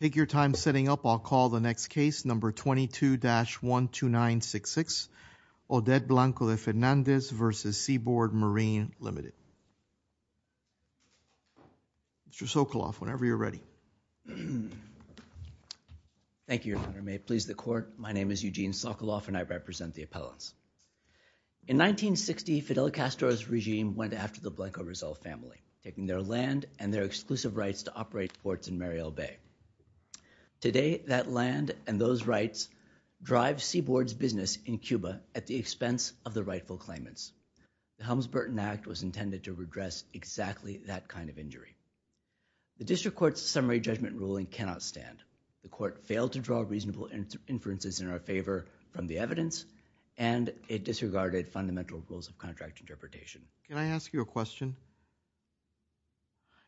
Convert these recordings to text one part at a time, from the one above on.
Take your time setting up. I'll call the next case number 22-12966, Odette Blanco De Fernandez v. Seaboard Marine Ltd. Mr. Sokoloff, whenever you're ready. Thank you, Your Honor. May it please the court. My name is Eugene Sokoloff and I represent the appellants. In 1960, Fidel Castro's regime went after the Blanco Rizal family, taking their land and their exclusive rights to operate ports in Mariel Bay. Today, that land and those rights drive Seaboard's business in Cuba at the expense of the rightful claimants. The Helms-Burton Act was intended to redress exactly that kind of injury. The district court's summary judgment ruling cannot stand. The court failed to draw reasonable inferences in our favor from the evidence and it disregarded fundamental rules of contract interpretation. Can I ask you a question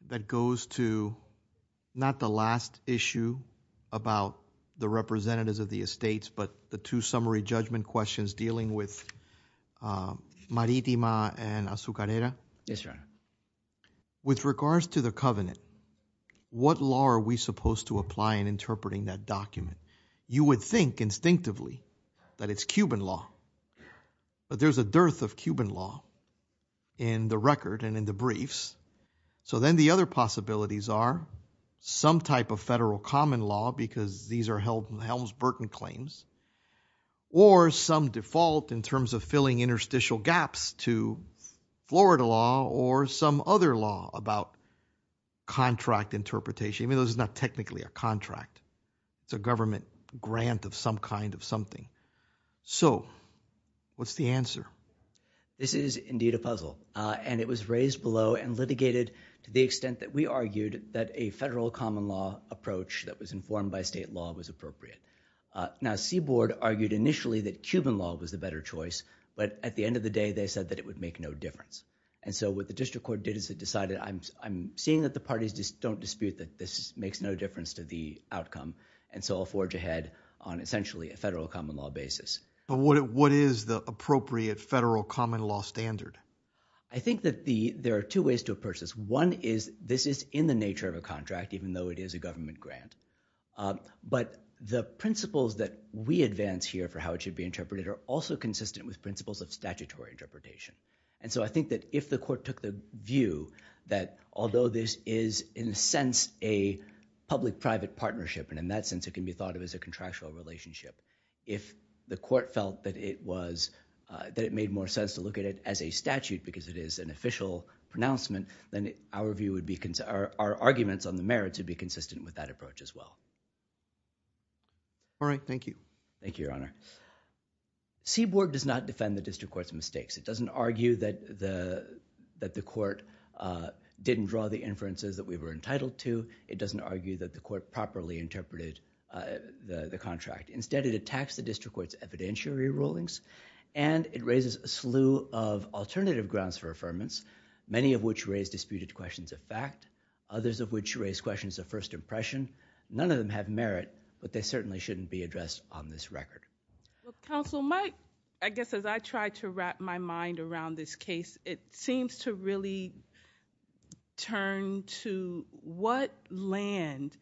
that goes to not the last issue about the representatives of the estates, but the two summary judgment questions dealing with Maritima and Azucarera? Yes, Your Honor. With regards to the covenant, what law are we supposed to apply in interpreting that document? You would think instinctively that it's Cuban law, but there's a dearth of Cuban law in the record and in the briefs. So then the other possibilities are some type of federal common law, because these are held in the Helms-Burton claims, or some default in terms of filling interstitial gaps to Florida law or some other law about contract interpretation, even though it's not technically a contract. It's a government grant of some kind of something. So what's the answer? This is indeed a puzzle, and it was raised below and litigated to the extent that we argued that a federal common law approach that was informed by state law was appropriate. Now, Seaboard argued initially that Cuban law was the better choice, but at the end of the day, they said that it would make no difference. And so what the district court did is it decided, I'm seeing that the parties just don't dispute that this makes no difference to the outcome, and so I'll forge ahead on essentially a federal common law basis. But what is the appropriate federal common law standard? I think that there are two ways to approach this. One is this is in the nature of a contract, even though it is a government grant. But the principles that we advance here for how it should be interpreted are also consistent with principles of statutory interpretation. And so I think that if the court took the view that although this is, in a sense, a public-private partnership, and in that sense it can be thought of as a contractual relationship, if the court felt that it made more sense to look at it as a statute because it is an official pronouncement, then our arguments on the merits would be consistent with that approach as well. All right. Thank you. Thank you, Your Honor. Seaboard does not defend the district court's mistakes. It doesn't argue that the court didn't draw the inferences that we were entitled to. It doesn't argue that the court properly interpreted the contract. Instead it attacks the district court's evidentiary rulings, and it raises a slew of alternative grounds for affirmance, many of which raise disputed questions of fact, others of which raise questions of first impression. None of them have merit, but they certainly shouldn't be addressed on this record. Well, Counsel Mike, I guess as I try to wrap my mind around this case, it seems to really turn to what land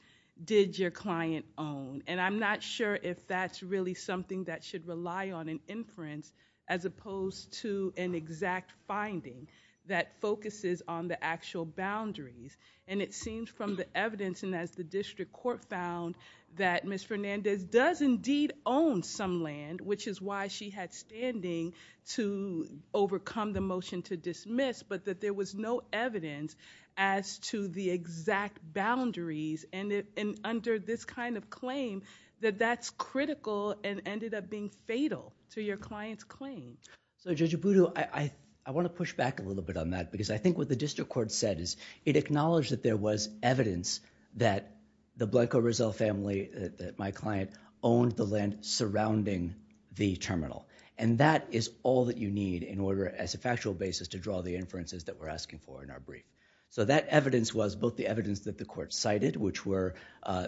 did your client own? And I'm not sure if that's really something that should rely on an inference as opposed to an exact finding that focuses on the actual boundaries. And it seems from the evidence, and as the district court found, that Ms. Fernandez does indeed own some land, which is why she had standing to overcome the motion to dismiss, but that there was no evidence as to the exact boundaries, and under this kind of claim, that that's critical and ended up being fatal to your client's claim. So, Judge Abudu, I want to push back a little bit on that because I think what the district court said is it acknowledged that there was evidence that the Blanco Rizal family, that my client, owned the land surrounding the terminal, and that is all that you need in order, as a factual basis, to draw the inferences that we're asking for in our brief. So that evidence was both the evidence that the court cited, which were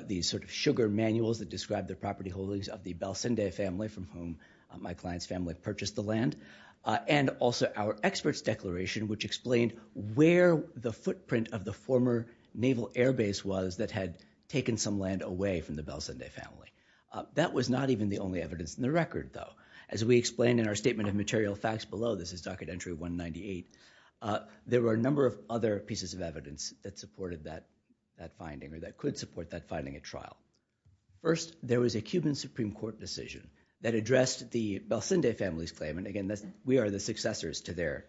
the sort of sugar manuals that described the property holdings of the Belcinde family, from whom my client's family purchased the land, and also our expert's declaration, which explained where the footprint of the former naval airbase was that had taken some land away from the Belcinde family. That was not even the only evidence in the record, though. As we explained in our statement of material facts below, this is docket entry 198, there were a number of other pieces of evidence that supported that finding, or that could support that finding at trial. First, there was a Cuban Supreme Court decision that addressed the Belcinde family's claim, and again, we are the successors to their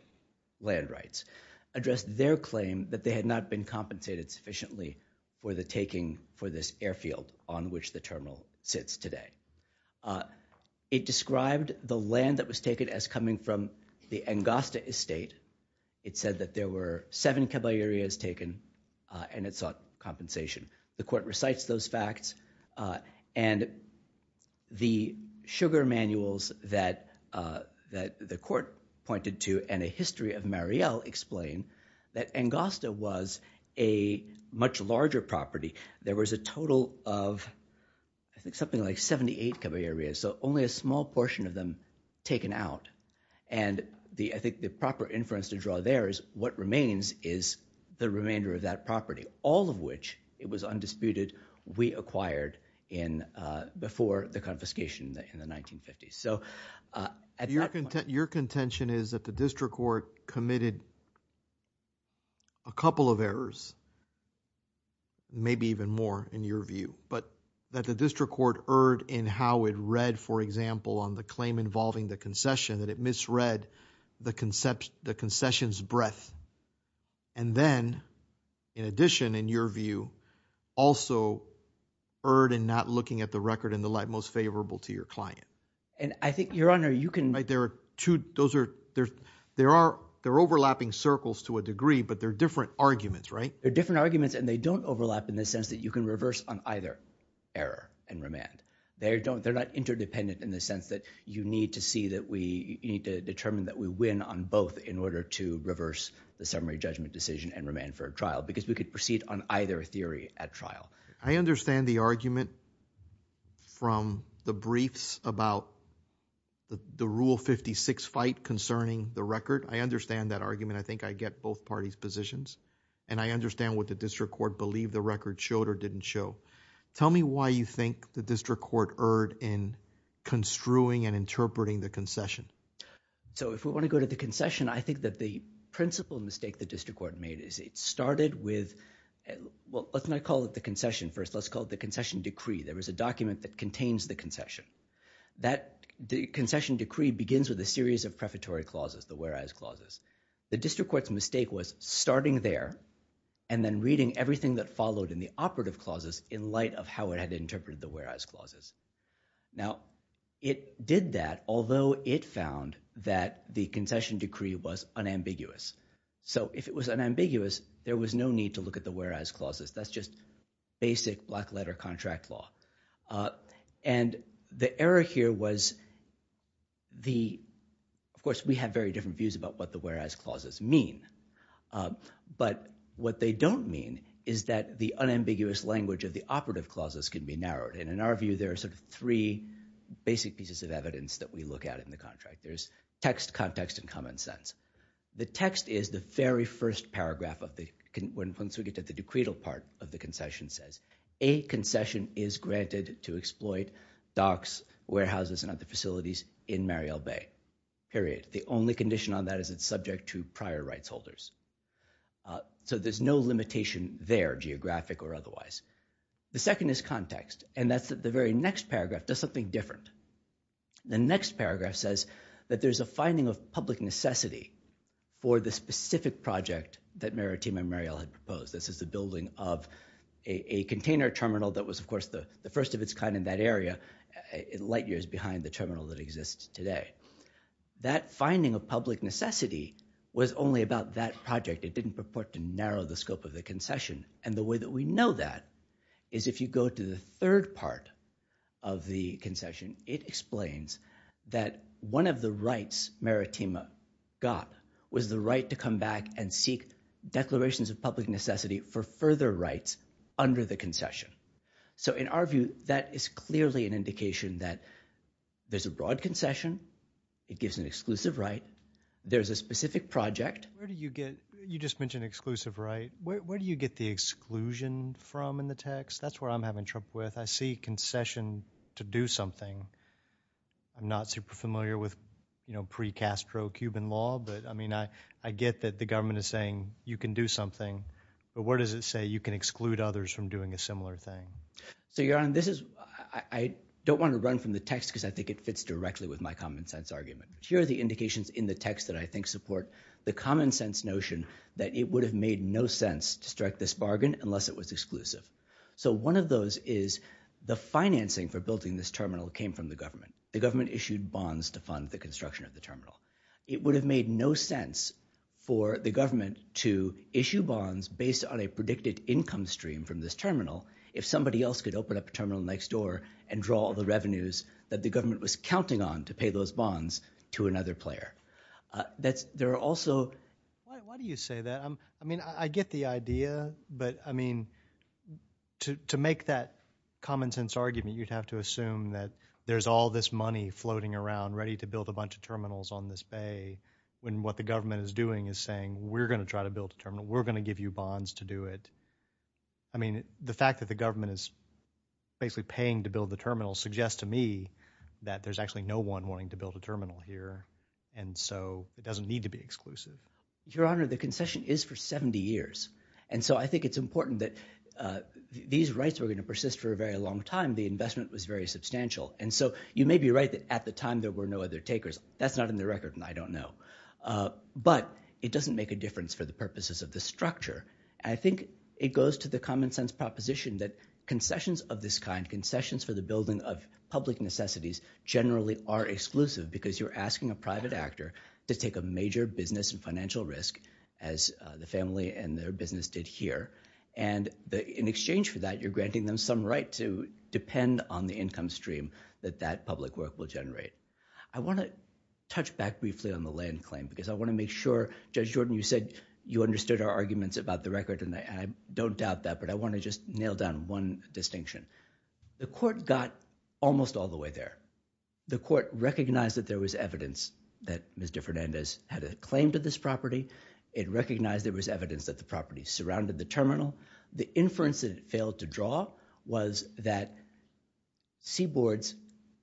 land rights, addressed their claim that they had not been compensated sufficiently for the taking for this airfield on which the terminal sits today. It described the land that was taken as coming from the Angosta estate. It said that there were seven caballerias taken, and it sought compensation. The court recites those facts, and the sugar manuals that the court pointed to, and a history of Marielle, explain that Angosta was a much larger property. There was a total of, I think, something like 78 caballerias, so only a small portion of them taken out, and I think the proper inference to draw there is what remains is the remainder of that property, all of which, it was undisputed, we acquired before the confiscation in the 1950s. At that point... Your contention is that the district court committed a couple of errors, maybe even more in your view, but that the district court erred in how it read, for example, on the claim involving the concession, that it misread the concession's breadth, and then, in addition, in your view, also erred in not looking at the record in the light most favorable to your client. And I think, Your Honor, you can... Right. There are two... those are... there are... they're overlapping circles to a degree, but they're different arguments, right? They're different arguments, and they don't overlap in the sense that you can reverse on either error and remand. They don't... they're not interdependent in the sense that you need to see that we... you need to determine that we win on both in order to reverse the summary judgment I understand the argument from the briefs about the Rule 56 fight concerning the record. I understand that argument. I think I get both parties' positions, and I understand what the district court believed the record showed or didn't show. Tell me why you think the district court erred in construing and interpreting the concession. So if we want to go to the concession, I think that the principal mistake the district court made is it started with... well, let's not call it the concession first. Let's call it the concession decree. There was a document that contains the concession. That concession decree begins with a series of prefatory clauses, the whereas clauses. The district court's mistake was starting there and then reading everything that followed in the operative clauses in light of how it had interpreted the whereas clauses. Now it did that, although it found that the concession decree was unambiguous. So if it was unambiguous, there was no need to look at the whereas clauses. That's just basic black-letter contract law. And the error here was the... of course, we have very different views about what the whereas clauses mean. But what they don't mean is that the unambiguous language of the operative clauses can be narrowed. And in our view, there are sort of three basic pieces of evidence that we look at in the contract. There's text, context, and common sense. The text is the very first paragraph of the... once we get to the decretal part of the concession says, a concession is granted to exploit docks, warehouses, and other facilities in Mariel Bay, period. The only condition on that is it's subject to prior rights holders. So there's no limitation there, geographic or otherwise. The second is context, and that's the very next paragraph does something different. The next paragraph says that there's a finding of public necessity for the specific project that Maritima and Mariel had proposed. This is the building of a container terminal that was, of course, the first of its kind in that area, light years behind the terminal that exists today. That finding of public necessity was only about that project. It didn't purport to narrow the scope of the concession. And the way that we know that is if you go to the third part of the concession, it explains that one of the rights Maritima got was the right to come back and seek declarations of public necessity for further rights under the concession. So in our view, that is clearly an indication that there's a broad concession, it gives an exclusive right, there's a specific project... What is the exclusion from in the text? That's where I'm having trouble with. I see concession to do something. I'm not super familiar with, you know, pre-Castro Cuban law, but I mean, I get that the government is saying you can do something, but where does it say you can exclude others from doing a similar thing? So, Your Honor, this is... I don't want to run from the text because I think it fits directly with my common sense argument, but here are the indications in the text that I think support the common sense notion that it would have made no sense to strike this bargain unless it was exclusive. So one of those is the financing for building this terminal came from the government. The government issued bonds to fund the construction of the terminal. It would have made no sense for the government to issue bonds based on a predicted income stream from this terminal if somebody else could open up a terminal next door and draw all the revenues that the government was counting on to pay those bonds to another player. There are also... Why do you say that? I mean, I get the idea, but I mean, to make that common sense argument, you'd have to assume that there's all this money floating around ready to build a bunch of terminals on this bay when what the government is doing is saying, we're going to try to build a terminal. We're going to give you bonds to do it. I mean, the fact that the government is basically paying to build the terminal suggests to me that there's actually no one wanting to build a terminal here, and so it doesn't need to be exclusive. Your Honor, the concession is for 70 years, and so I think it's important that these rights were going to persist for a very long time. The investment was very substantial, and so you may be right that at the time there were no other takers. That's not in the record, and I don't know. But it doesn't make a difference for the purposes of the structure. I think it goes to the common sense proposition that concessions of this kind, concessions for the building of public necessities, generally are exclusive because you're asking a private actor to take a major business and financial risk, as the family and their business did here. And in exchange for that, you're granting them some right to depend on the income stream that that public work will generate. I want to touch back briefly on the land claim, because I want to make sure, Judge Jordan, you said you understood our arguments about the record, and I don't doubt that, but I want to just nail down one distinction. The court got almost all the way there. The court recognized that there was evidence that Ms. DeFernandez had a claim to this property. It recognized there was evidence that the property surrounded the terminal. The inference that it failed to draw was that Seaboard's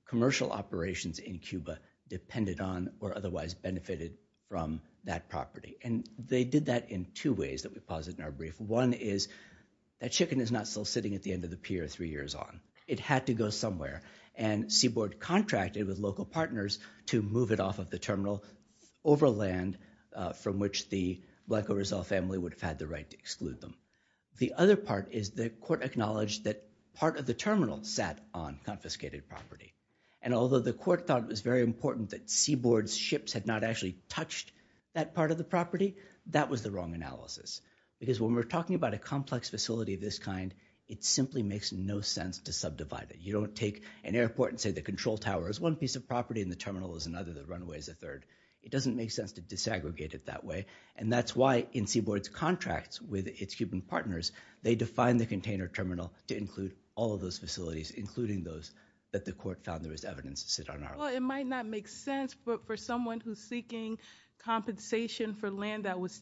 commercial operations in Cuba depended on or otherwise benefited from that property. And they did that in two ways that we posit in our brief. One is that chicken is not still sitting at the end of the pier three years on. It had to go somewhere. And Seaboard contracted with local partners to move it off of the terminal over land from which the Blanco Rizal family would have had the right to exclude them. The other part is the court acknowledged that part of the terminal sat on confiscated property. And although the court thought it was very important that Seaboard's ships had not actually touched that part of the property, that was the wrong analysis. Because when we're talking about a complex facility of this kind, it simply makes no sense to subdivide it. You don't take an airport and say the control tower is one piece of property and the terminal is another, the runway is a third. It doesn't make sense to disaggregate it that way. And that's why in Seaboard's contracts with its Cuban partners, they defined the container terminal to include all of those facilities, including those that the court found there was evidence to sit on. Well, it might not make sense, but for someone who's seeking compensation for land that was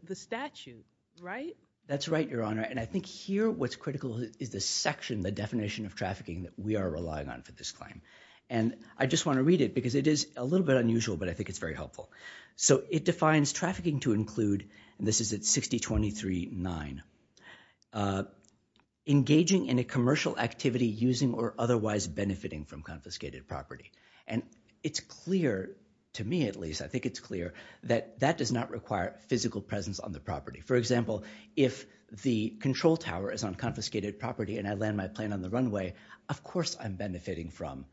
the statute, right? That's right, Your Honor. And I think here what's critical is the section, the definition of trafficking that we are relying on for this claim. And I just want to read it because it is a little bit unusual, but I think it's very helpful. So it defines trafficking to include, and this is at 6023-9, engaging in a commercial activity using or otherwise benefiting from confiscated property. And it's clear, to me at least, I think it's clear that that does not require physical presence on the property. For example, if the control tower is on confiscated property and I land my plane on the runway, of course I'm benefiting from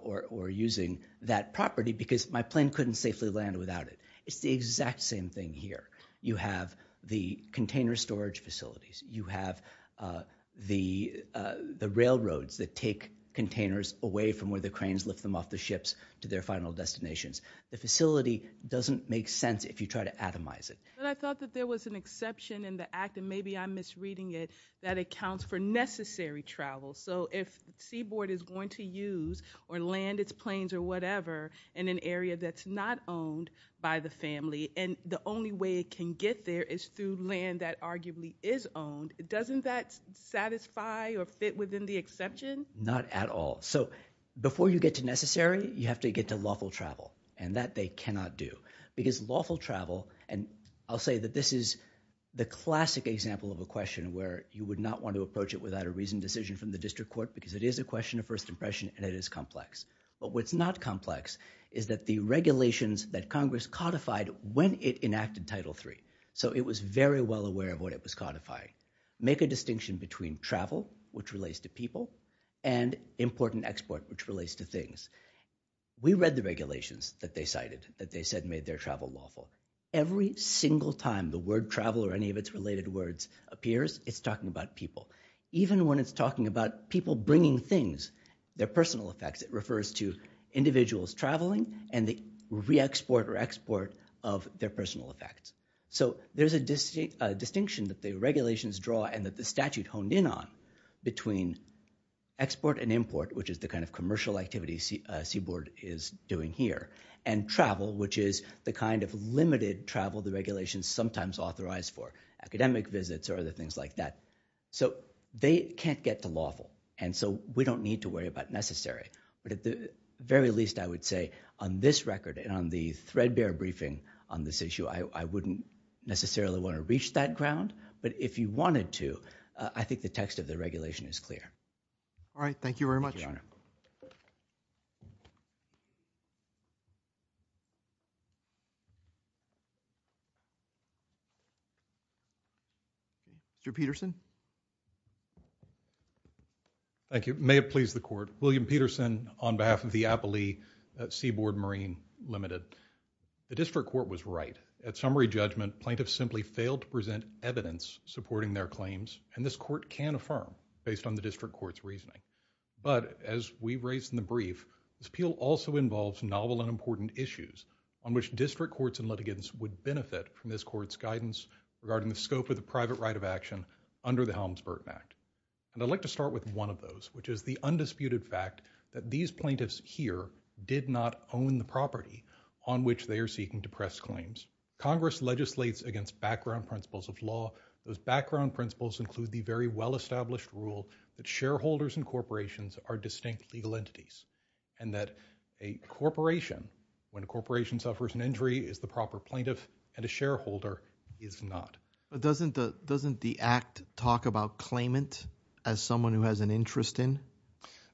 or using that property because my plane couldn't safely land without it. It's the exact same thing here. You have the container storage facilities, you have the railroads that take containers away from where the cranes lift them off the ships to their final destinations. The facility doesn't make sense if you try to atomize it. But I thought that there was an exception in the act, and maybe I'm misreading it, that accounts for necessary travel. So if Seaboard is going to use or land its planes or whatever in an area that's not owned by the family and the only way it can get there is through land that arguably is owned, doesn't that satisfy or fit within the exception? Not at all. So before you get to necessary, you have to get to lawful travel. And that they cannot do. Because lawful travel, and I'll say that this is the classic example of a question where you would not want to approach it without a reasoned decision from the district court because it is a question of first impression and it is complex. But what's not complex is that the regulations that Congress codified when it enacted Title III. So it was very well aware of what it was codifying. Make a distinction between travel, which relates to people, and import and export, which relates to things. We read the regulations that they cited, that they said made their travel lawful. Every single time the word travel or any of its related words appears, it's talking about people. Even when it's talking about people bringing things, their personal effects, it refers to individuals traveling and the re-export or export of their personal effects. So there's a distinction that the regulations draw and that the statute honed in on between export and import, which is the kind of commercial activity Seaboard is doing here, and travel, which is the kind of limited travel the regulations sometimes authorize for, academic visits or other things like that. So they can't get to lawful. And so we don't need to worry about necessary. But at the very least, I would say on this record and on the threadbare briefing on this that you wouldn't necessarily want to reach that ground, but if you wanted to, I think the text of the regulation is clear. All right. Thank you very much. Thank you, Your Honor. Mr. Peterson. Thank you. May it please the Court. William Peterson on behalf of the Appalee Seaboard Marine Limited. The district court was right. At summary judgment, plaintiffs simply failed to present evidence supporting their claims, and this court can affirm based on the district court's reasoning. But as we raised in the brief, this appeal also involves novel and important issues on which district courts and litigants would benefit from this court's guidance regarding the scope of the private right of action under the Helms-Burton Act. And I'd like to start with one of those, which is the undisputed fact that these plaintiffs here did not own the property on which they are seeking to press claims. Congress legislates against background principles of law. Those background principles include the very well-established rule that shareholders and corporations are distinct legal entities, and that a corporation, when a corporation suffers an injury, is the proper plaintiff, and a shareholder is not. But doesn't the Act talk about claimant as someone who has an interest in?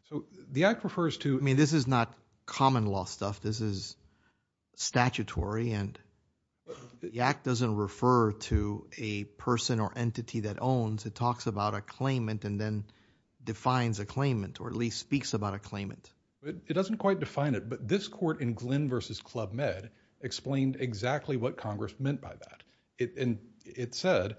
So, the Act refers to... I mean, this is not common law stuff. This is statutory, and the Act doesn't refer to a person or entity that owns. It talks about a claimant and then defines a claimant, or at least speaks about a claimant. It doesn't quite define it, but this court in Glynn v. Club Med explained exactly what Congress meant by that, and it said,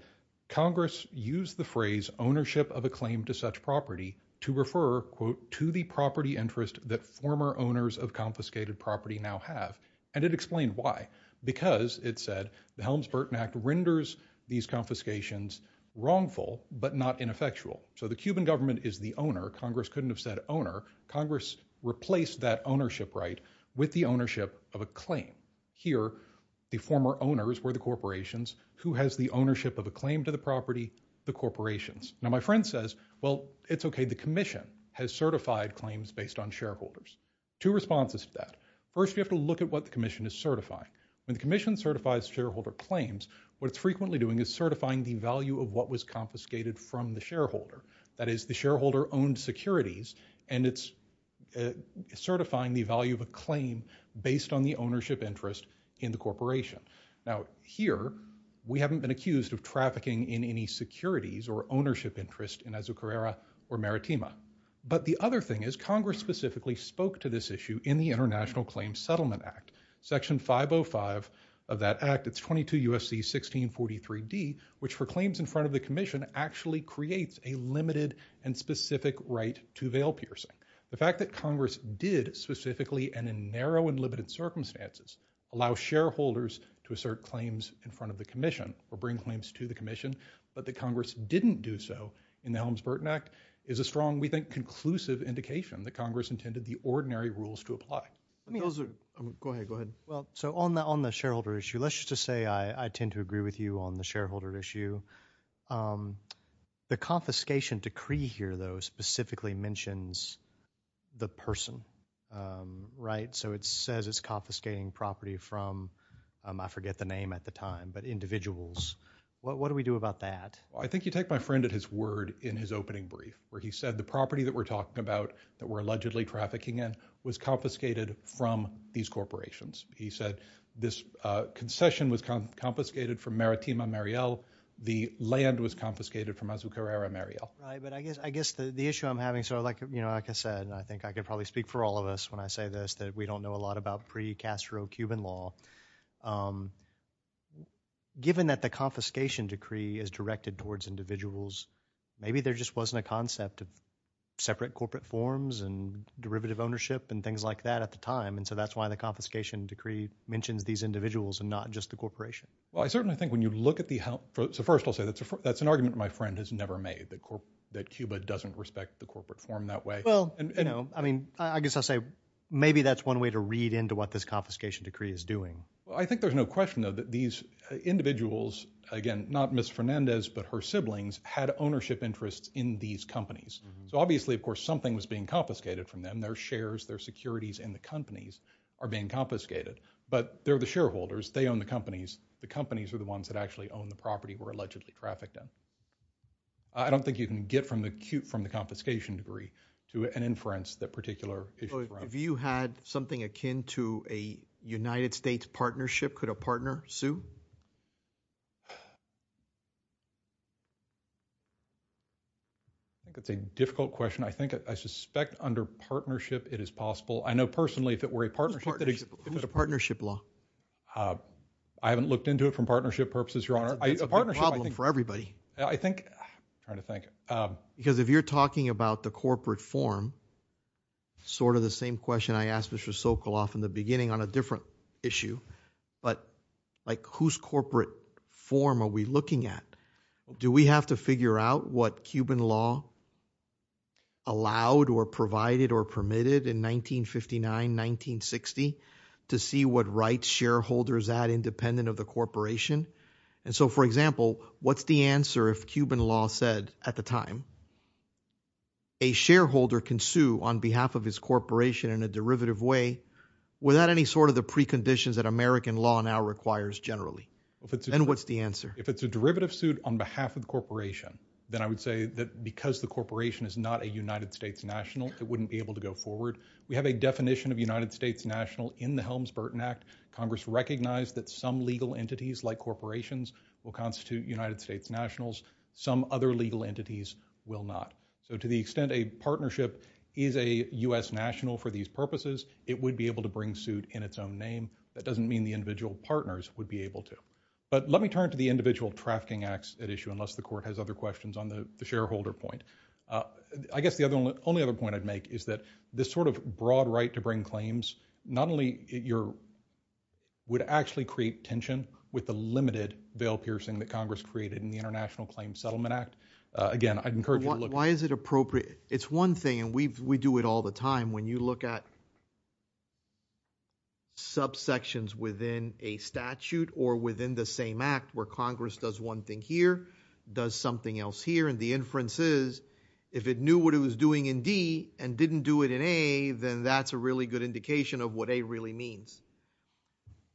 Congress used the phrase ownership of a claim to such property to refer, quote, to the property interest that former owners of confiscated property now have, and it explained why. Because it said, the Helms-Burton Act renders these confiscations wrongful, but not ineffectual. So the Cuban government is the owner. Congress couldn't have said owner. Congress replaced that ownership right with the ownership of a claim. Here the former owners were the corporations. Who has the ownership of a claim to the property? The corporations. Now my friend says, well, it's okay. The commission has certified claims based on shareholders. Two responses to that. First, you have to look at what the commission is certifying. When the commission certifies shareholder claims, what it's frequently doing is certifying the value of what was confiscated from the shareholder. That is, the shareholder owned securities, and it's certifying the value of a claim based on the ownership interest in the corporation. Now here, we haven't been accused of trafficking in any securities or ownership interest in Azucarera or Maritima. But the other thing is, Congress specifically spoke to this issue in the International Claims Settlement Act. Section 505 of that act, it's 22 U.S.C. 1643d, which for claims in front of the commission actually creates a limited and specific right to veil piercing. The fact that Congress did specifically, and in narrow and limited circumstances, allow shareholders to assert claims in front of the commission, or bring claims to the commission, but that Congress didn't do so in the Helms-Burton Act, is a strong, we think, conclusive indication that Congress intended the ordinary rules to apply. Go ahead, go ahead. So on the shareholder issue, let's just say I tend to agree with you on the shareholder issue. The confiscation decree here, though, specifically mentions the person, right? So it says it's confiscating property from, I forget the name at the time, but individuals. What do we do about that? Well, I think you take my friend at his word in his opening brief, where he said the property that we're talking about, that we're allegedly trafficking in, was confiscated from these corporations. He said this concession was confiscated from Maritima Mariel, the land was confiscated from Azucarera Mariel. Right, but I guess the issue I'm having, like I said, and I think I could probably speak for all of us when I say this, that we don't know a lot about pre-Castro Cuban law. Given that the confiscation decree is directed towards individuals, maybe there just wasn't a concept of separate corporate forms and derivative ownership and things like that at the time, and so that's why the confiscation decree mentions these individuals and not just the corporation. Well, I certainly think when you look at the, so first I'll say that's an argument my friend has never made, that Cuba doesn't respect the corporate form that way. Well, you know, I mean, I guess I'll say maybe that's one way to read into what this confiscation decree is doing. Well, I think there's no question, though, that these individuals, again, not Ms. Fernandez, but her siblings, had ownership interests in these companies. So obviously, of course, something was being confiscated from them. Their shares, their securities in the companies are being confiscated. But they're the shareholders, they own the companies, the companies are the ones that actually own the property we're allegedly trafficked in. I don't think you can get from the confiscation decree to an inference that particular issue is relevant. Have you had something akin to a United States partnership? Could a partner sue? I think that's a difficult question. I think, I suspect under partnership it is possible. I know personally if it were a partnership that existed. Who's partnership law? I haven't looked into it for partnership purposes, Your Honor. That's a problem for everybody. I think, I'm trying to think. Because if you're talking about the corporate form, sort of the same question I asked Mr. Sokoloff in the beginning on a different issue, but like whose corporate form are we looking at? Do we have to figure out what Cuban law allowed or provided or permitted in 1959, 1960 to see what rights shareholders had independent of the corporation? And so, for example, what's the answer if Cuban law said at the time, a shareholder can sue on behalf of his corporation in a derivative way without any sort of the preconditions that American law now requires generally? Then what's the answer? If it's a derivative suit on behalf of the corporation, then I would say that because the corporation is not a United States national, it wouldn't be able to go forward. We have a definition of United States national in the Helms-Burton Act. Congress recognized that some legal entities like corporations will constitute United States nationals. Some other legal entities will not. So, to the extent a partnership is a U.S. national for these purposes, it would be able to bring suit in its own name. That doesn't mean the individual partners would be able to. But let me turn to the individual trafficking acts at issue, unless the court has other questions on the shareholder point. I guess the only other point I'd make is that this sort of broad right to bring claims, not only would actually create tension with the limited veil piercing that Congress created in the International Claims Settlement Act. Again, I'd encourage you to look at it. Why is it appropriate? It's one thing, and we do it all the time, when you look at subsections within a statute or within the same act where Congress does one thing here, does something else here, and the inference is if it knew what it was doing in D and didn't do it in A, then that's a really good indication of what A really means.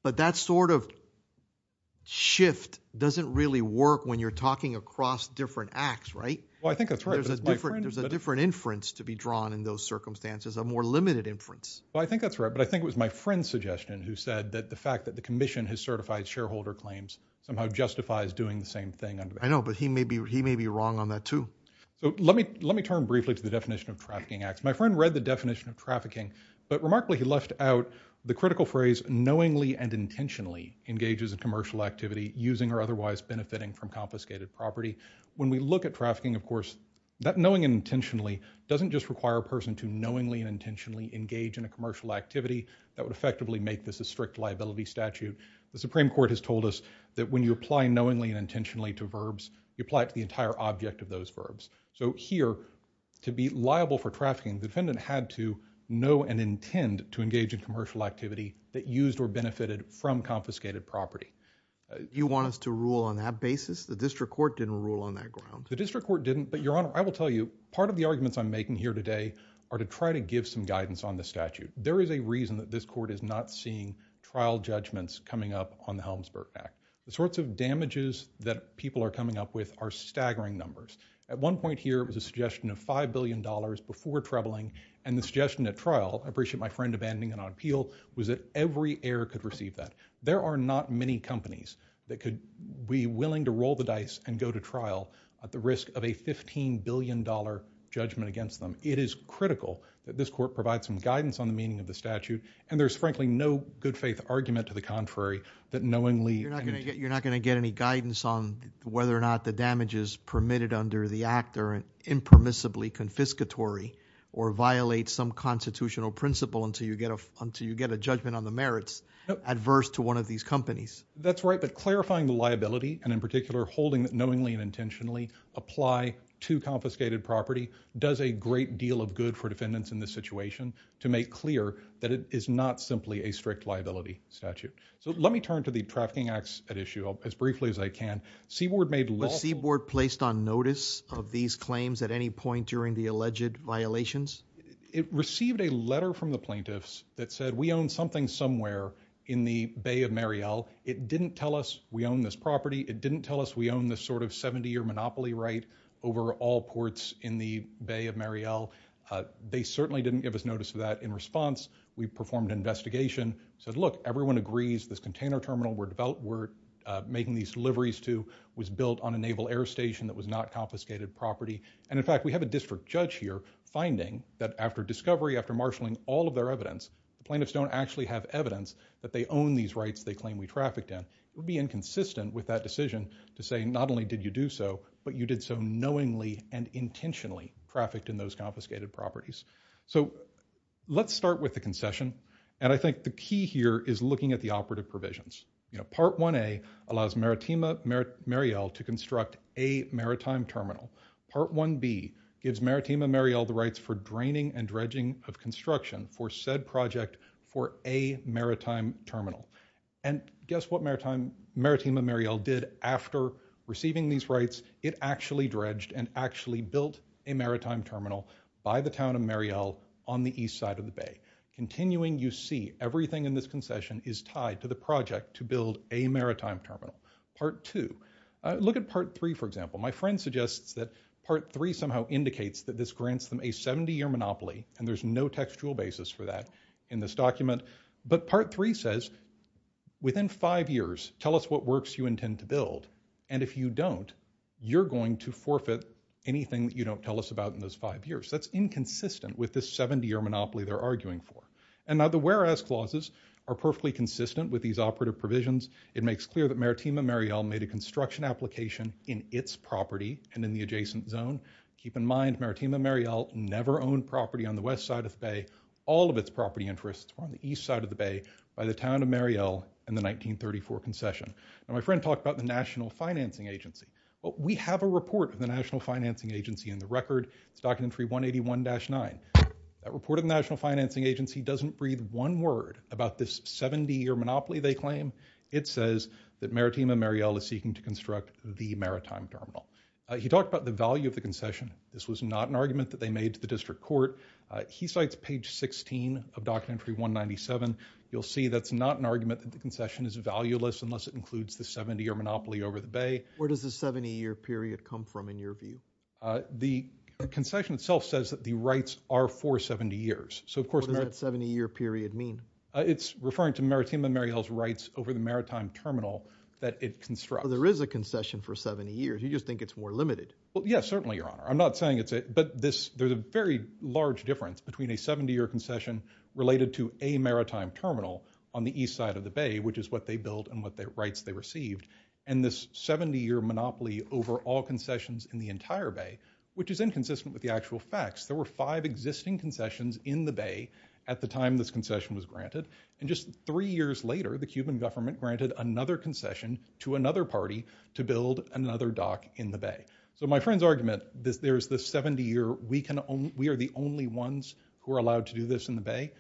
But that sort of shift doesn't really work when you're talking across different acts, right? Well, I think that's right. There's a different inference to be drawn in those circumstances, a more limited inference. Well, I think that's right. But I think it was my friend's suggestion who said that the fact that the commission has certified shareholder claims somehow justifies doing the same thing. I know, but he may be wrong on that, too. So, let me turn briefly to the definition of trafficking acts. My friend read the definition of trafficking, but remarkably, he left out the critical phrase knowingly and intentionally engages in commercial activity using or otherwise benefiting from confiscated property. When we look at trafficking, of course, that knowing and intentionally doesn't just require a person to knowingly and intentionally engage in a commercial activity. That would effectively make this a strict liability statute. The Supreme Court has told us that when you apply knowingly and intentionally to verbs, you apply it to the entire object of those verbs. So, here, to be liable for trafficking, the defendant had to know and intend to engage in commercial activity that used or benefited from confiscated property. You want us to rule on that basis? The district court didn't rule on that ground. The district court didn't, but, Your Honor, I will tell you, part of the arguments I'm making here today are to try to give some guidance on the statute. There is a reason that this court is not seeing trial judgments coming up on the Helmsburg Act. The sorts of damages that people are coming up with are staggering numbers. At one point here, it was a suggestion of $5 billion before troubling, and the suggestion at trial, I appreciate my friend abandoning it on appeal, was that every error could receive that. There are not many companies that could be willing to roll the dice and go to trial at the risk of a $15 billion judgment against them. It is critical that this court provide some guidance on the meaning of the statute, and there's frankly no good faith argument to the contrary that knowingly and You're not going to get any guidance on whether or not the damages permitted under the act are impermissibly confiscatory or violate some constitutional principle until you get a judgment on the merits adverse to one of these companies. That's right, but clarifying the liability, and in particular holding that knowingly and intentionally apply to confiscated property does a great deal of good for defendants in this situation to make clear that it is not simply a strict liability statute. So let me turn to the Trafficking Acts at issue as briefly as I can. Was Seaboard placed on notice of these claims at any point during the alleged violations? It received a letter from the plaintiffs that said we own something somewhere in the Bay of Mariel. It didn't tell us we own this property. It didn't tell us we own this sort of 70-year monopoly right over all ports in the Bay of Mariel. They certainly didn't give us notice of that. In response, we performed an investigation. We said, look, everyone agrees this container terminal we're making these deliveries to was built on a naval air station that was not confiscated property. And in fact, we have a district judge here finding that after discovery, after marshaling all of their evidence, the plaintiffs don't actually have evidence that they own these rights they claim we trafficked in. It would be inconsistent with that decision to say not only did you do so, but you did so knowingly and intentionally trafficked in those confiscated properties. So let's start with the concession. And I think the key here is looking at the operative provisions. Part 1A allows Maritima Mariel to construct a maritime terminal. Part 1B gives Maritima Mariel the rights for draining and dredging of construction for said project for a maritime terminal. And guess what Maritima Mariel did after receiving these rights? It actually dredged and actually built a maritime terminal by the town of Mariel on the east side of the bay. Continuing, you see everything in this concession is tied to the project to build a maritime terminal. Part 2. Look at Part 3, for example. My friend suggests that Part 3 somehow indicates that this grants them a 70-year monopoly, and there's no textual basis for that in this document. But Part 3 says, within five years, tell us what works you intend to build. And if you don't, you're going to forfeit anything that you don't tell us about in those five years. That's inconsistent with this 70-year monopoly they're arguing for. And now the whereas clauses are perfectly consistent with these operative provisions. It makes clear that Maritima Mariel made a construction application in its property and in the adjacent zone. Keep in mind, Maritima Mariel never owned property on the west side of the bay. All of its property interests were on the east side of the bay by the town of Mariel in the 1934 concession. My friend talked about the National Financing Agency. We have a report of the National Financing Agency in the record. It's Documentary 181-9. That report of the National Financing Agency doesn't breathe one word about this 70-year monopoly they claim. It says that Maritima Mariel is seeking to construct the maritime terminal. He talked about the value of the concession. This was not an argument that they made to the district court. He cites page 16 of Documentary 197. You'll see that's not an argument that the concession is valueless unless it includes the 70-year monopoly over the bay. Where does the 70-year period come from, in your view? The concession itself says that the rights are for 70 years. What does that 70-year period mean? It's referring to Maritima Mariel's rights over the maritime terminal that it constructs. There is a concession for 70 years. You just think it's more limited. Yes, certainly, Your Honor. I'm not saying it's it. But there's a very large difference between a 70-year concession related to a maritime terminal on the east side of the bay, which is what they built and what rights they received, and this 70-year monopoly over all concessions in the entire bay, which is inconsistent with the actual facts. There were five existing concessions in the bay at the time this concession was granted. Just three years later, the Cuban government granted another concession to another party to build another dock in the bay. My friend's argument, there's this 70-year, we are the only ones who are allowed to do this in the bay.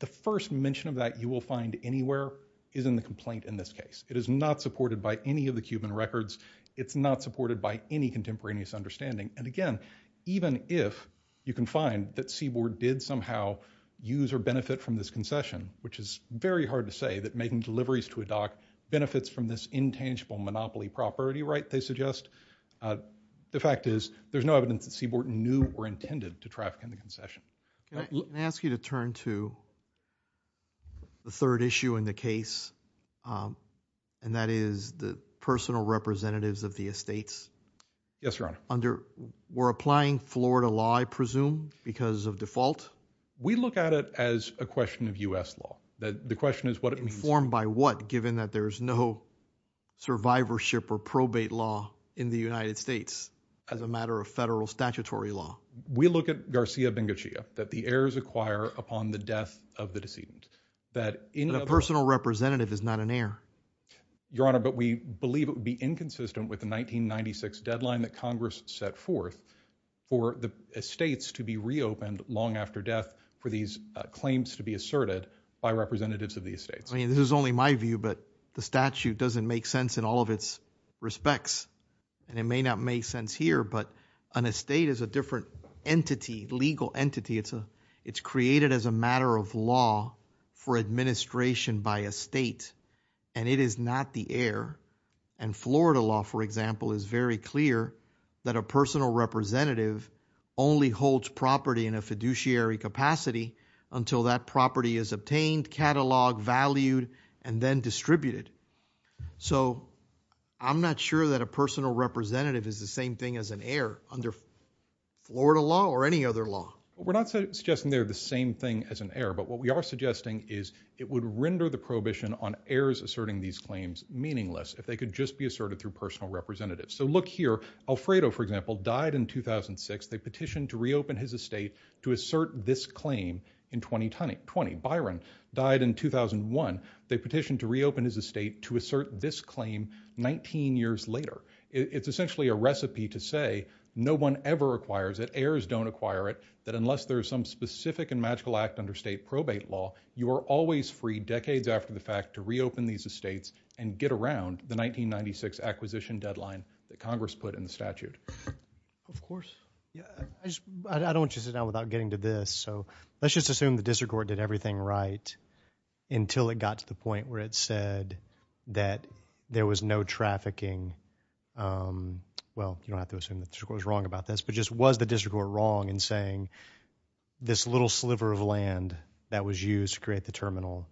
The first mention of that you will find anywhere is in the complaint in this case. It is not supported by any of the Cuban records. It's not supported by any contemporaneous understanding. And again, even if you can find that Seaboard did somehow use or benefit from this concession, which is very hard to say that making deliveries to a dock benefits from this intangible monopoly property right they suggest, the fact is there's no evidence that Seaboard knew or intended to traffic in the concession. Can I ask you to turn to the third issue in the case, and that is the personal representatives of the estates? Yes, Your Honor. Were applying Florida law, I presume, because of default? We look at it as a question of U.S. law. Informed by what, given that there's no survivorship or probate law in the United States as a matter of federal statutory law. We look at Garcia Bengucia, that the heirs acquire upon the death of the decedent. But a personal representative is not an heir. Your Honor, but we believe it would be inconsistent with the 1996 deadline that Congress set forth for the estates to be reopened long after death for these claims to be asserted by representatives of the estates. I mean, this is only my view, but the statute doesn't make sense in all of its respects. And it may not make sense here, but an estate is a different entity, legal entity. It's created as a matter of law for administration by a state, and it is not the heir. And Florida law, for example, is very clear that a personal representative only holds until that property is obtained, cataloged, valued and then distributed. So I'm not sure that a personal representative is the same thing as an heir under Florida law or any other law. We're not suggesting they're the same thing as an heir, but what we are suggesting is it would render the prohibition on heirs asserting these claims meaningless if they could just be asserted through personal representatives. So look here, Alfredo, for example, died in 2006. They petitioned to reopen his estate to assert this claim in 2020. Byron died in 2001. They petitioned to reopen his estate to assert this claim 19 years later. It's essentially a recipe to say no one ever acquires it, heirs don't acquire it, that unless there's some specific and magical act under state probate law, you are always free decades after the fact to reopen these estates and get around the 1996 acquisition deadline that Congress put in the statute. Of course. I don't want you to sit down without getting to this, so let's just assume the district court did everything right until it got to the point where it said that there was no trafficking. Well, you don't have to assume the district court was wrong about this, but just was the district court wrong in saying this little sliver of land that was used to create the terminal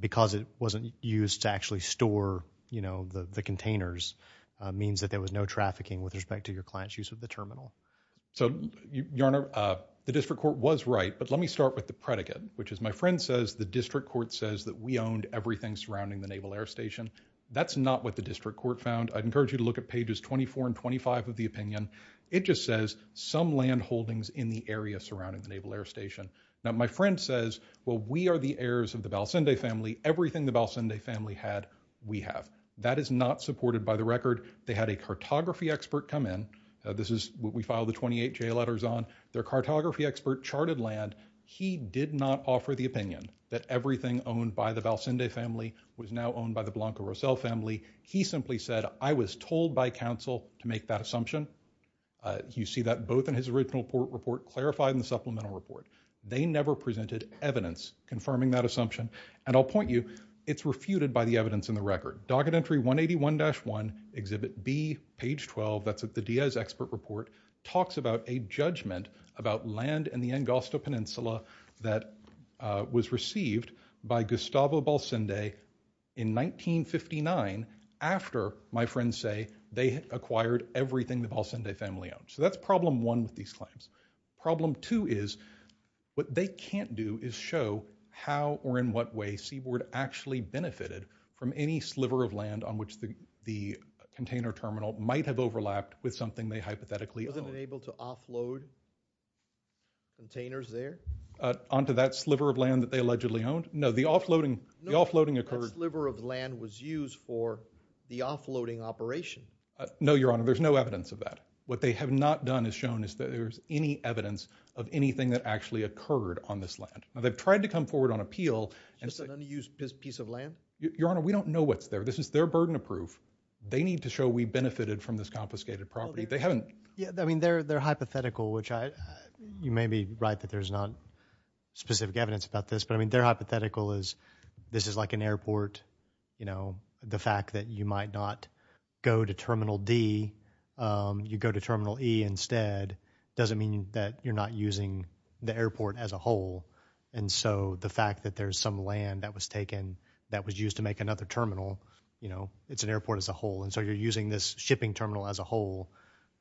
because it wasn't used to actually store the containers means that there was no trafficking with respect to your client's use of the terminal. So, Your Honor, the district court was right, but let me start with the predicate, which is my friend says the district court says that we owned everything surrounding the Naval Air Station. That's not what the district court found. I'd encourage you to look at pages 24 and 25 of the opinion. It just says some land holdings in the area surrounding the Naval Air Station. Now, my friend says, well, we are the heirs of the Balsende family. Everything the Balsende family had, we have. That is not supported by the record. They had a cartography expert come in. This is what we filed the 28 J letters on. Their cartography expert charted land. He did not offer the opinion that everything owned by the Balsende family was now owned by the Blanco Rossell family. He simply said, I was told by counsel to make that assumption. You see that both in his original report, clarified in the supplemental report. They never presented evidence confirming that assumption. And I'll point you, it's refuted by the evidence in the record. Documentary 181-1, exhibit B, page 12, that's at the Diaz expert report, talks about a judgment about land in the Angosta Peninsula that was received by Gustavo Balsende in 1959 after, my friends say, they acquired everything the Balsende family owned. So that's problem one with these claims. Problem two is, what they can't do is show how or in what way Seaboard actually benefited from any sliver of land on which the container terminal might have overlapped with something they hypothetically owned. Wasn't it able to offload containers there? Onto that sliver of land that they allegedly owned? No, that sliver of land was used for the offloading operation. No, Your Honor, there's no evidence of that. What they have not done is shown is that there's any evidence of anything that actually occurred on this land. They've tried to come forward on appeal. Your Honor, we don't know what's there. This is their burden of proof. They need to show we benefited from this confiscated property. They're hypothetical, you may be right that there's not specific evidence about this, but their hypothetical is, this is like an airport. The fact that you might not go to Terminal D, you go to Terminal E instead doesn't mean that you're not using the airport as a whole. The fact that there's some land that was used to make another terminal, it's an airport as a whole. You're using this shipping terminal as a whole.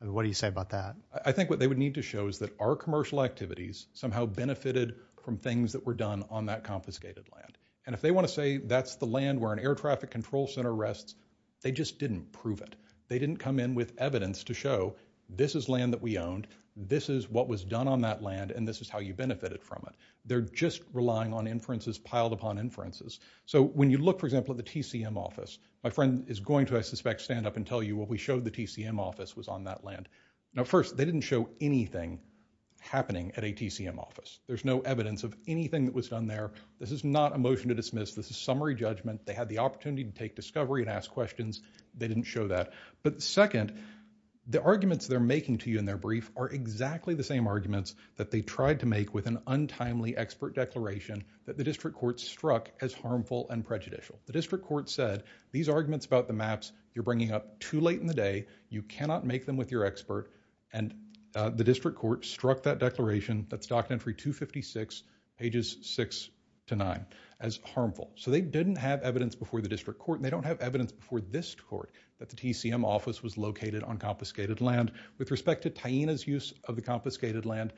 What do you say about that? I think what they would need to show is that our commercial activities somehow benefited from things that were done on that confiscated land. If they want to say that's the land where an air traffic control center rests, they just didn't prove it. They didn't come in with evidence to show this is land that we owned, this is what was done on that land, and this is how you benefited from it. They're just relying on inferences piled upon inferences. When you look, for example, at the TCM office, my friend is going to, I suspect, stand up and tell you what we showed the TCM office was on that land. First, they didn't show anything happening at a TCM office. There's no evidence of anything that was done there. This is not a motion to dismiss. This is summary judgment. They had the opportunity to take discovery and ask questions. They didn't show that. But second, the arguments they're making to you in their brief are exactly the same arguments that they tried to make with an untimely expert declaration that the district court struck as harmful and prejudicial. The district court said, these arguments about the maps you're bringing up too late in the day, you cannot make them with your expert, and the district court struck that declaration, that's document 256, pages 6-9, as harmful. So they didn't have evidence before the district court and they don't have evidence before this court that the TCM office was located on confiscated land. With respect to Taina's use of the confiscated land,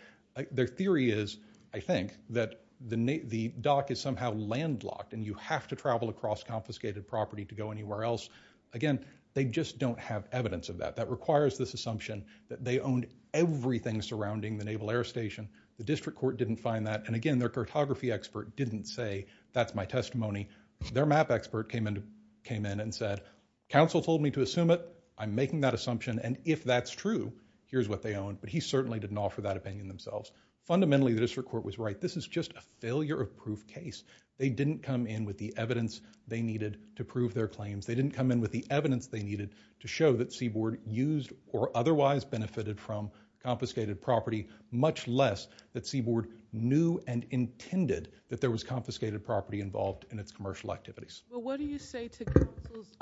their theory is, I think, that the dock is somehow landlocked and you have to travel across confiscated property to go anywhere else. Again, they just don't have evidence of that. That requires this assumption that they owned everything surrounding the Naval Air Station. The district court didn't find that. And again, their cartography expert didn't say, that's my testimony. Their map expert came in and said, council told me to assume it, I'm making that assumption, and if that's true, here's what they own. But he certainly didn't offer that opinion themselves. Fundamentally, the district court was right. This is just a failure of proof case. They didn't come in with the evidence they needed to prove their claims. They didn't come in with the evidence they needed to show that Seaboard used or otherwise benefited from confiscated property, much less that Seaboard knew and intended that there was confiscated property involved in its commercial activities. What do you say to council's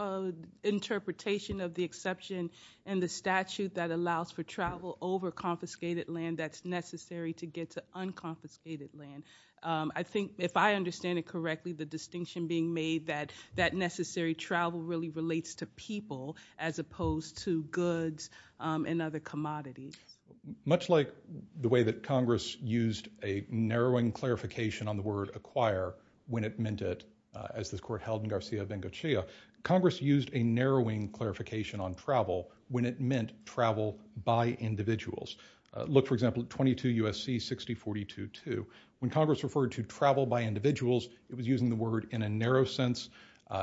interpretation of the exception in the statute that allows for travel over confiscated land that's necessary to get to unconfiscated land? If I understand it correctly, the distinction being made that necessary travel really relates to people as opposed to goods and other commodities. Much like the way that Congress used a narrowing clarification on the word acquire when it meant it, as this court held in Garcia-Vengochia, Congress used a narrowing clarification on travel when it meant travel by individuals. Look for example at 22 U.S.C. 6042-2. When Congress referred to travel by individuals, it was using the word in a narrow sense.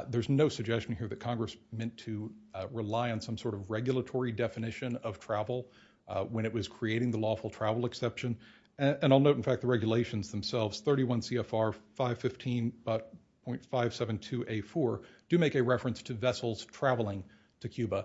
There's no suggestion here that Congress meant to rely on some sort of regulatory definition of travel when it was creating the lawful travel exception. And I'll note in fact the regulations themselves, 31 CFR 515.572A4, do make a reference to vessels traveling to Cuba.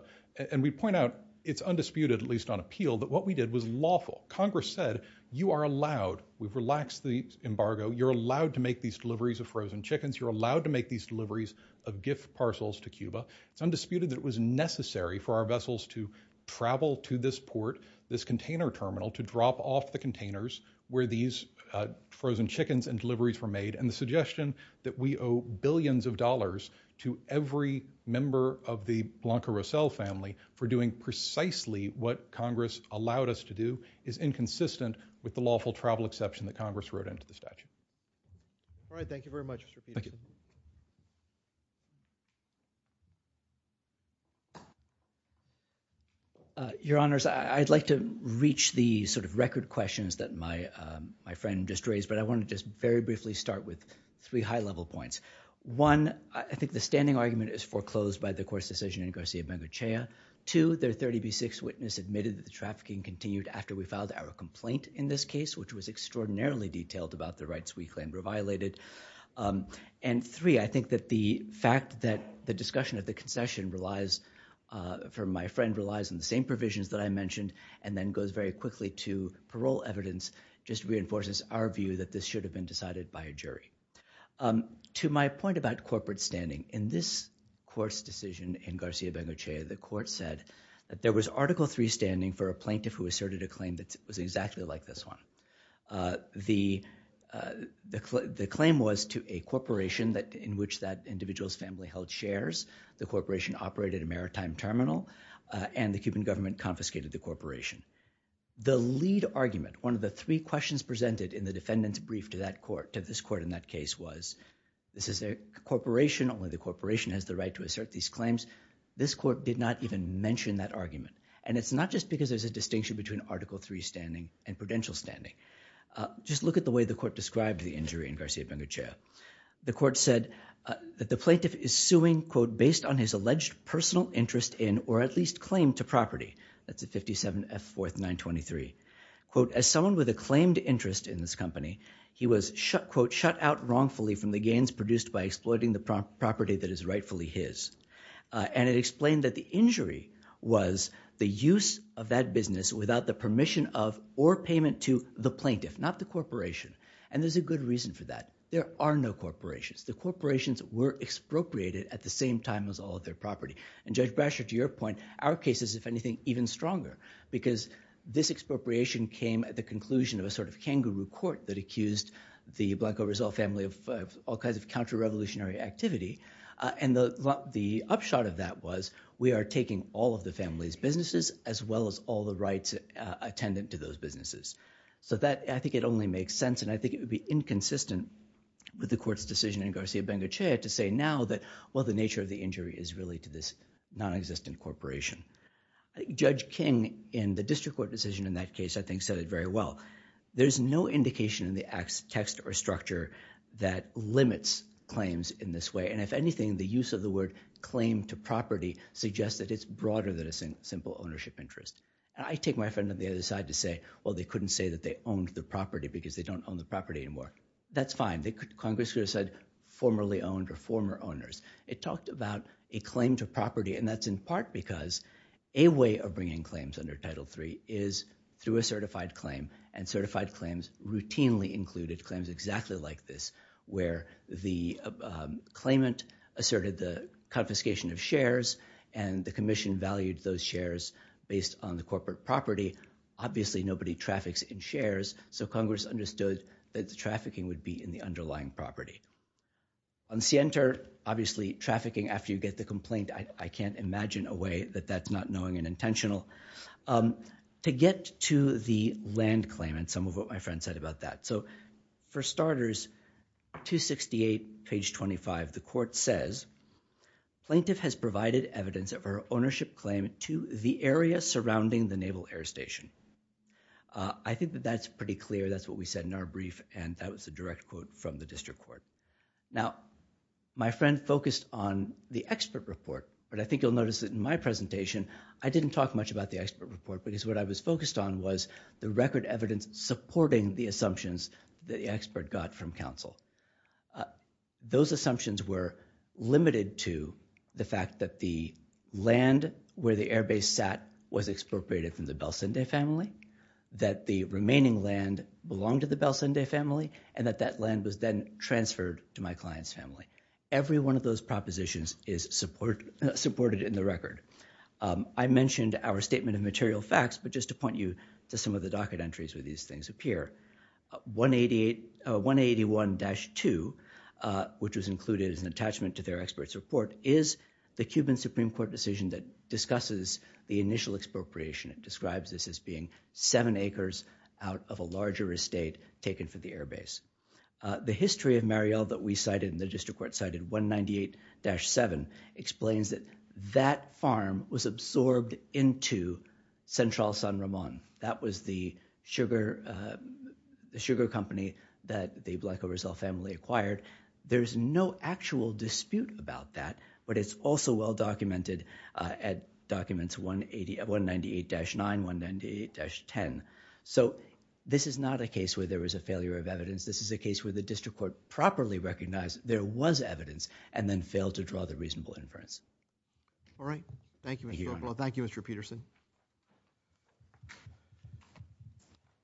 And we point out, it's undisputed at least on appeal, that what we did was lawful. Congress said, you are allowed, we've relaxed the embargo, you're allowed to make these deliveries of frozen chickens, you're allowed to make these deliveries of gift parcels to Cuba. It's undisputed that it was necessary for our vessels to travel to this port, this container terminal, to drop off the containers where these frozen chickens and deliveries were made. And the suggestion that we owe billions of dollars to every member of the Blanca Rossell family for doing precisely what Congress allowed us to do is inconsistent with the lawful travel exception that Congress wrote into the statute. All right, thank you very much, Mr. Peterson. Thank you. Your Honors, I'd like to reach the sort of record questions that my friend just raised, but I want to just very briefly start with three high-level points. One, I think the standing argument is foreclosed by the court's decision in Garcia Bengochea. Two, their 30B6 witness admitted that the trafficking continued after we filed our complaint in this case, which was extraordinarily detailed about the rights we claimed were violated. And three, I think that the fact that the discussion of the concession relies, for my friend, relies on the same provisions that I mentioned and then goes very quickly to parole evidence just reinforces our view that this should have been decided by a jury. To my point about corporate standing, in this court's decision in Garcia Bengochea, the court said that there was Article III standing for a plaintiff who asserted a claim that was exactly like this one. The claim was to a corporation in which that individual's family held shares. The corporation operated a maritime terminal and the Cuban government confiscated the corporation. The lead argument, one of the three questions presented in the defendant's brief to this court in that case was, this is a corporation, only the corporation has the right to assert these claims. This court did not even mention that argument. And it's not just because there's a distinction between Article III standing and prudential standing. Just look at the way the court described the injury in Garcia Bengochea. The court said that the plaintiff is suing based on his alleged personal interest in or at least claim to property. That's at 57F 4th 923. As someone with a claimed interest in this company, he was shut out wrongfully from the gains produced by exploiting the property that is rightfully his. And it explained that the injury was the use of that business without the permission of or payment to the plaintiff, not the corporation. And there's a good reason for that. There are no corporations. The corporations were expropriated at the same time as all of their property. And Judge Brasher, to your point, put our cases, if anything, even stronger. Because this expropriation came at the conclusion of a sort of kangaroo court that accused the Blanco Rizal family of all kinds of counter-revolutionary activity. And the upshot of that was, we are taking all of the family's businesses as well as all the rights attendant to those businesses. So I think it only makes sense, and I think it would be inconsistent with the court's decision in Garcia Bengochea to say now that, well, the nature of the injury is really to this nonexistent corporation. Judge King, in the district court decision in that case, I think said it very well. There's no indication in the text or structure that limits claims in this way. And if anything, the use of the word claim to property suggests that it's broader than a simple ownership interest. I take my friend on the other side to say, well, they couldn't say that they owned the property because they don't own the property anymore. That's fine. Congress could have said formerly owned or former owners. It talked about a claim to property and confiscation of shares, and the commission valued those shares based on the corporate property. Obviously nobody traffics in shares, so Congress understood that the trafficking would be in the underlying property. On Sienta, obviously trafficking after you get the complaint, I can't imagine a way that that's not knowing and intentional. To get to the land claim and some of what my friend said about that. For starters, 268 page 25, the court says, Plaintiff has provided evidence of her ownership claim to the area surrounding the Naval Air Station. I think that's pretty clear, that's what we said in our brief, and that was a direct quote from the district court. My friend focused on the expert report, but I think you'll notice that in my presentation I didn't talk much about the expert report because what I was focused on was the record evidence supporting the assumptions that the expert got from counsel. Those assumptions were limited to the fact that the land where the airbase sat was expropriated from the Belcinde family, that the remaining land belonged to the Belcinde family, and that that land was then transferred to my client's family. Every one of those propositions is supported in the record. I mentioned our statement of material facts, but just to point you to some of the docket entries where these things appear. 181-2, which was included as an attachment to their expert's report, is the Cuban Supreme Court decision that discusses the initial expropriation. It describes this as being 7 acres out of a larger estate taken for the airbase. The history of Mariel that we cited and the district court cited, 198-7, explains that that farm was absorbed into Central San Ramon. That was the sugar company that the Blanco Rizal family acquired. There's no actual dispute about that, but it's also well documented at documents 198-9, 198-10. This is not a case where there was a failure of evidence. This is a case where the district court properly recognized there was evidence and then failed to draw the reasonable inference. Thank you, Mr. Peterson.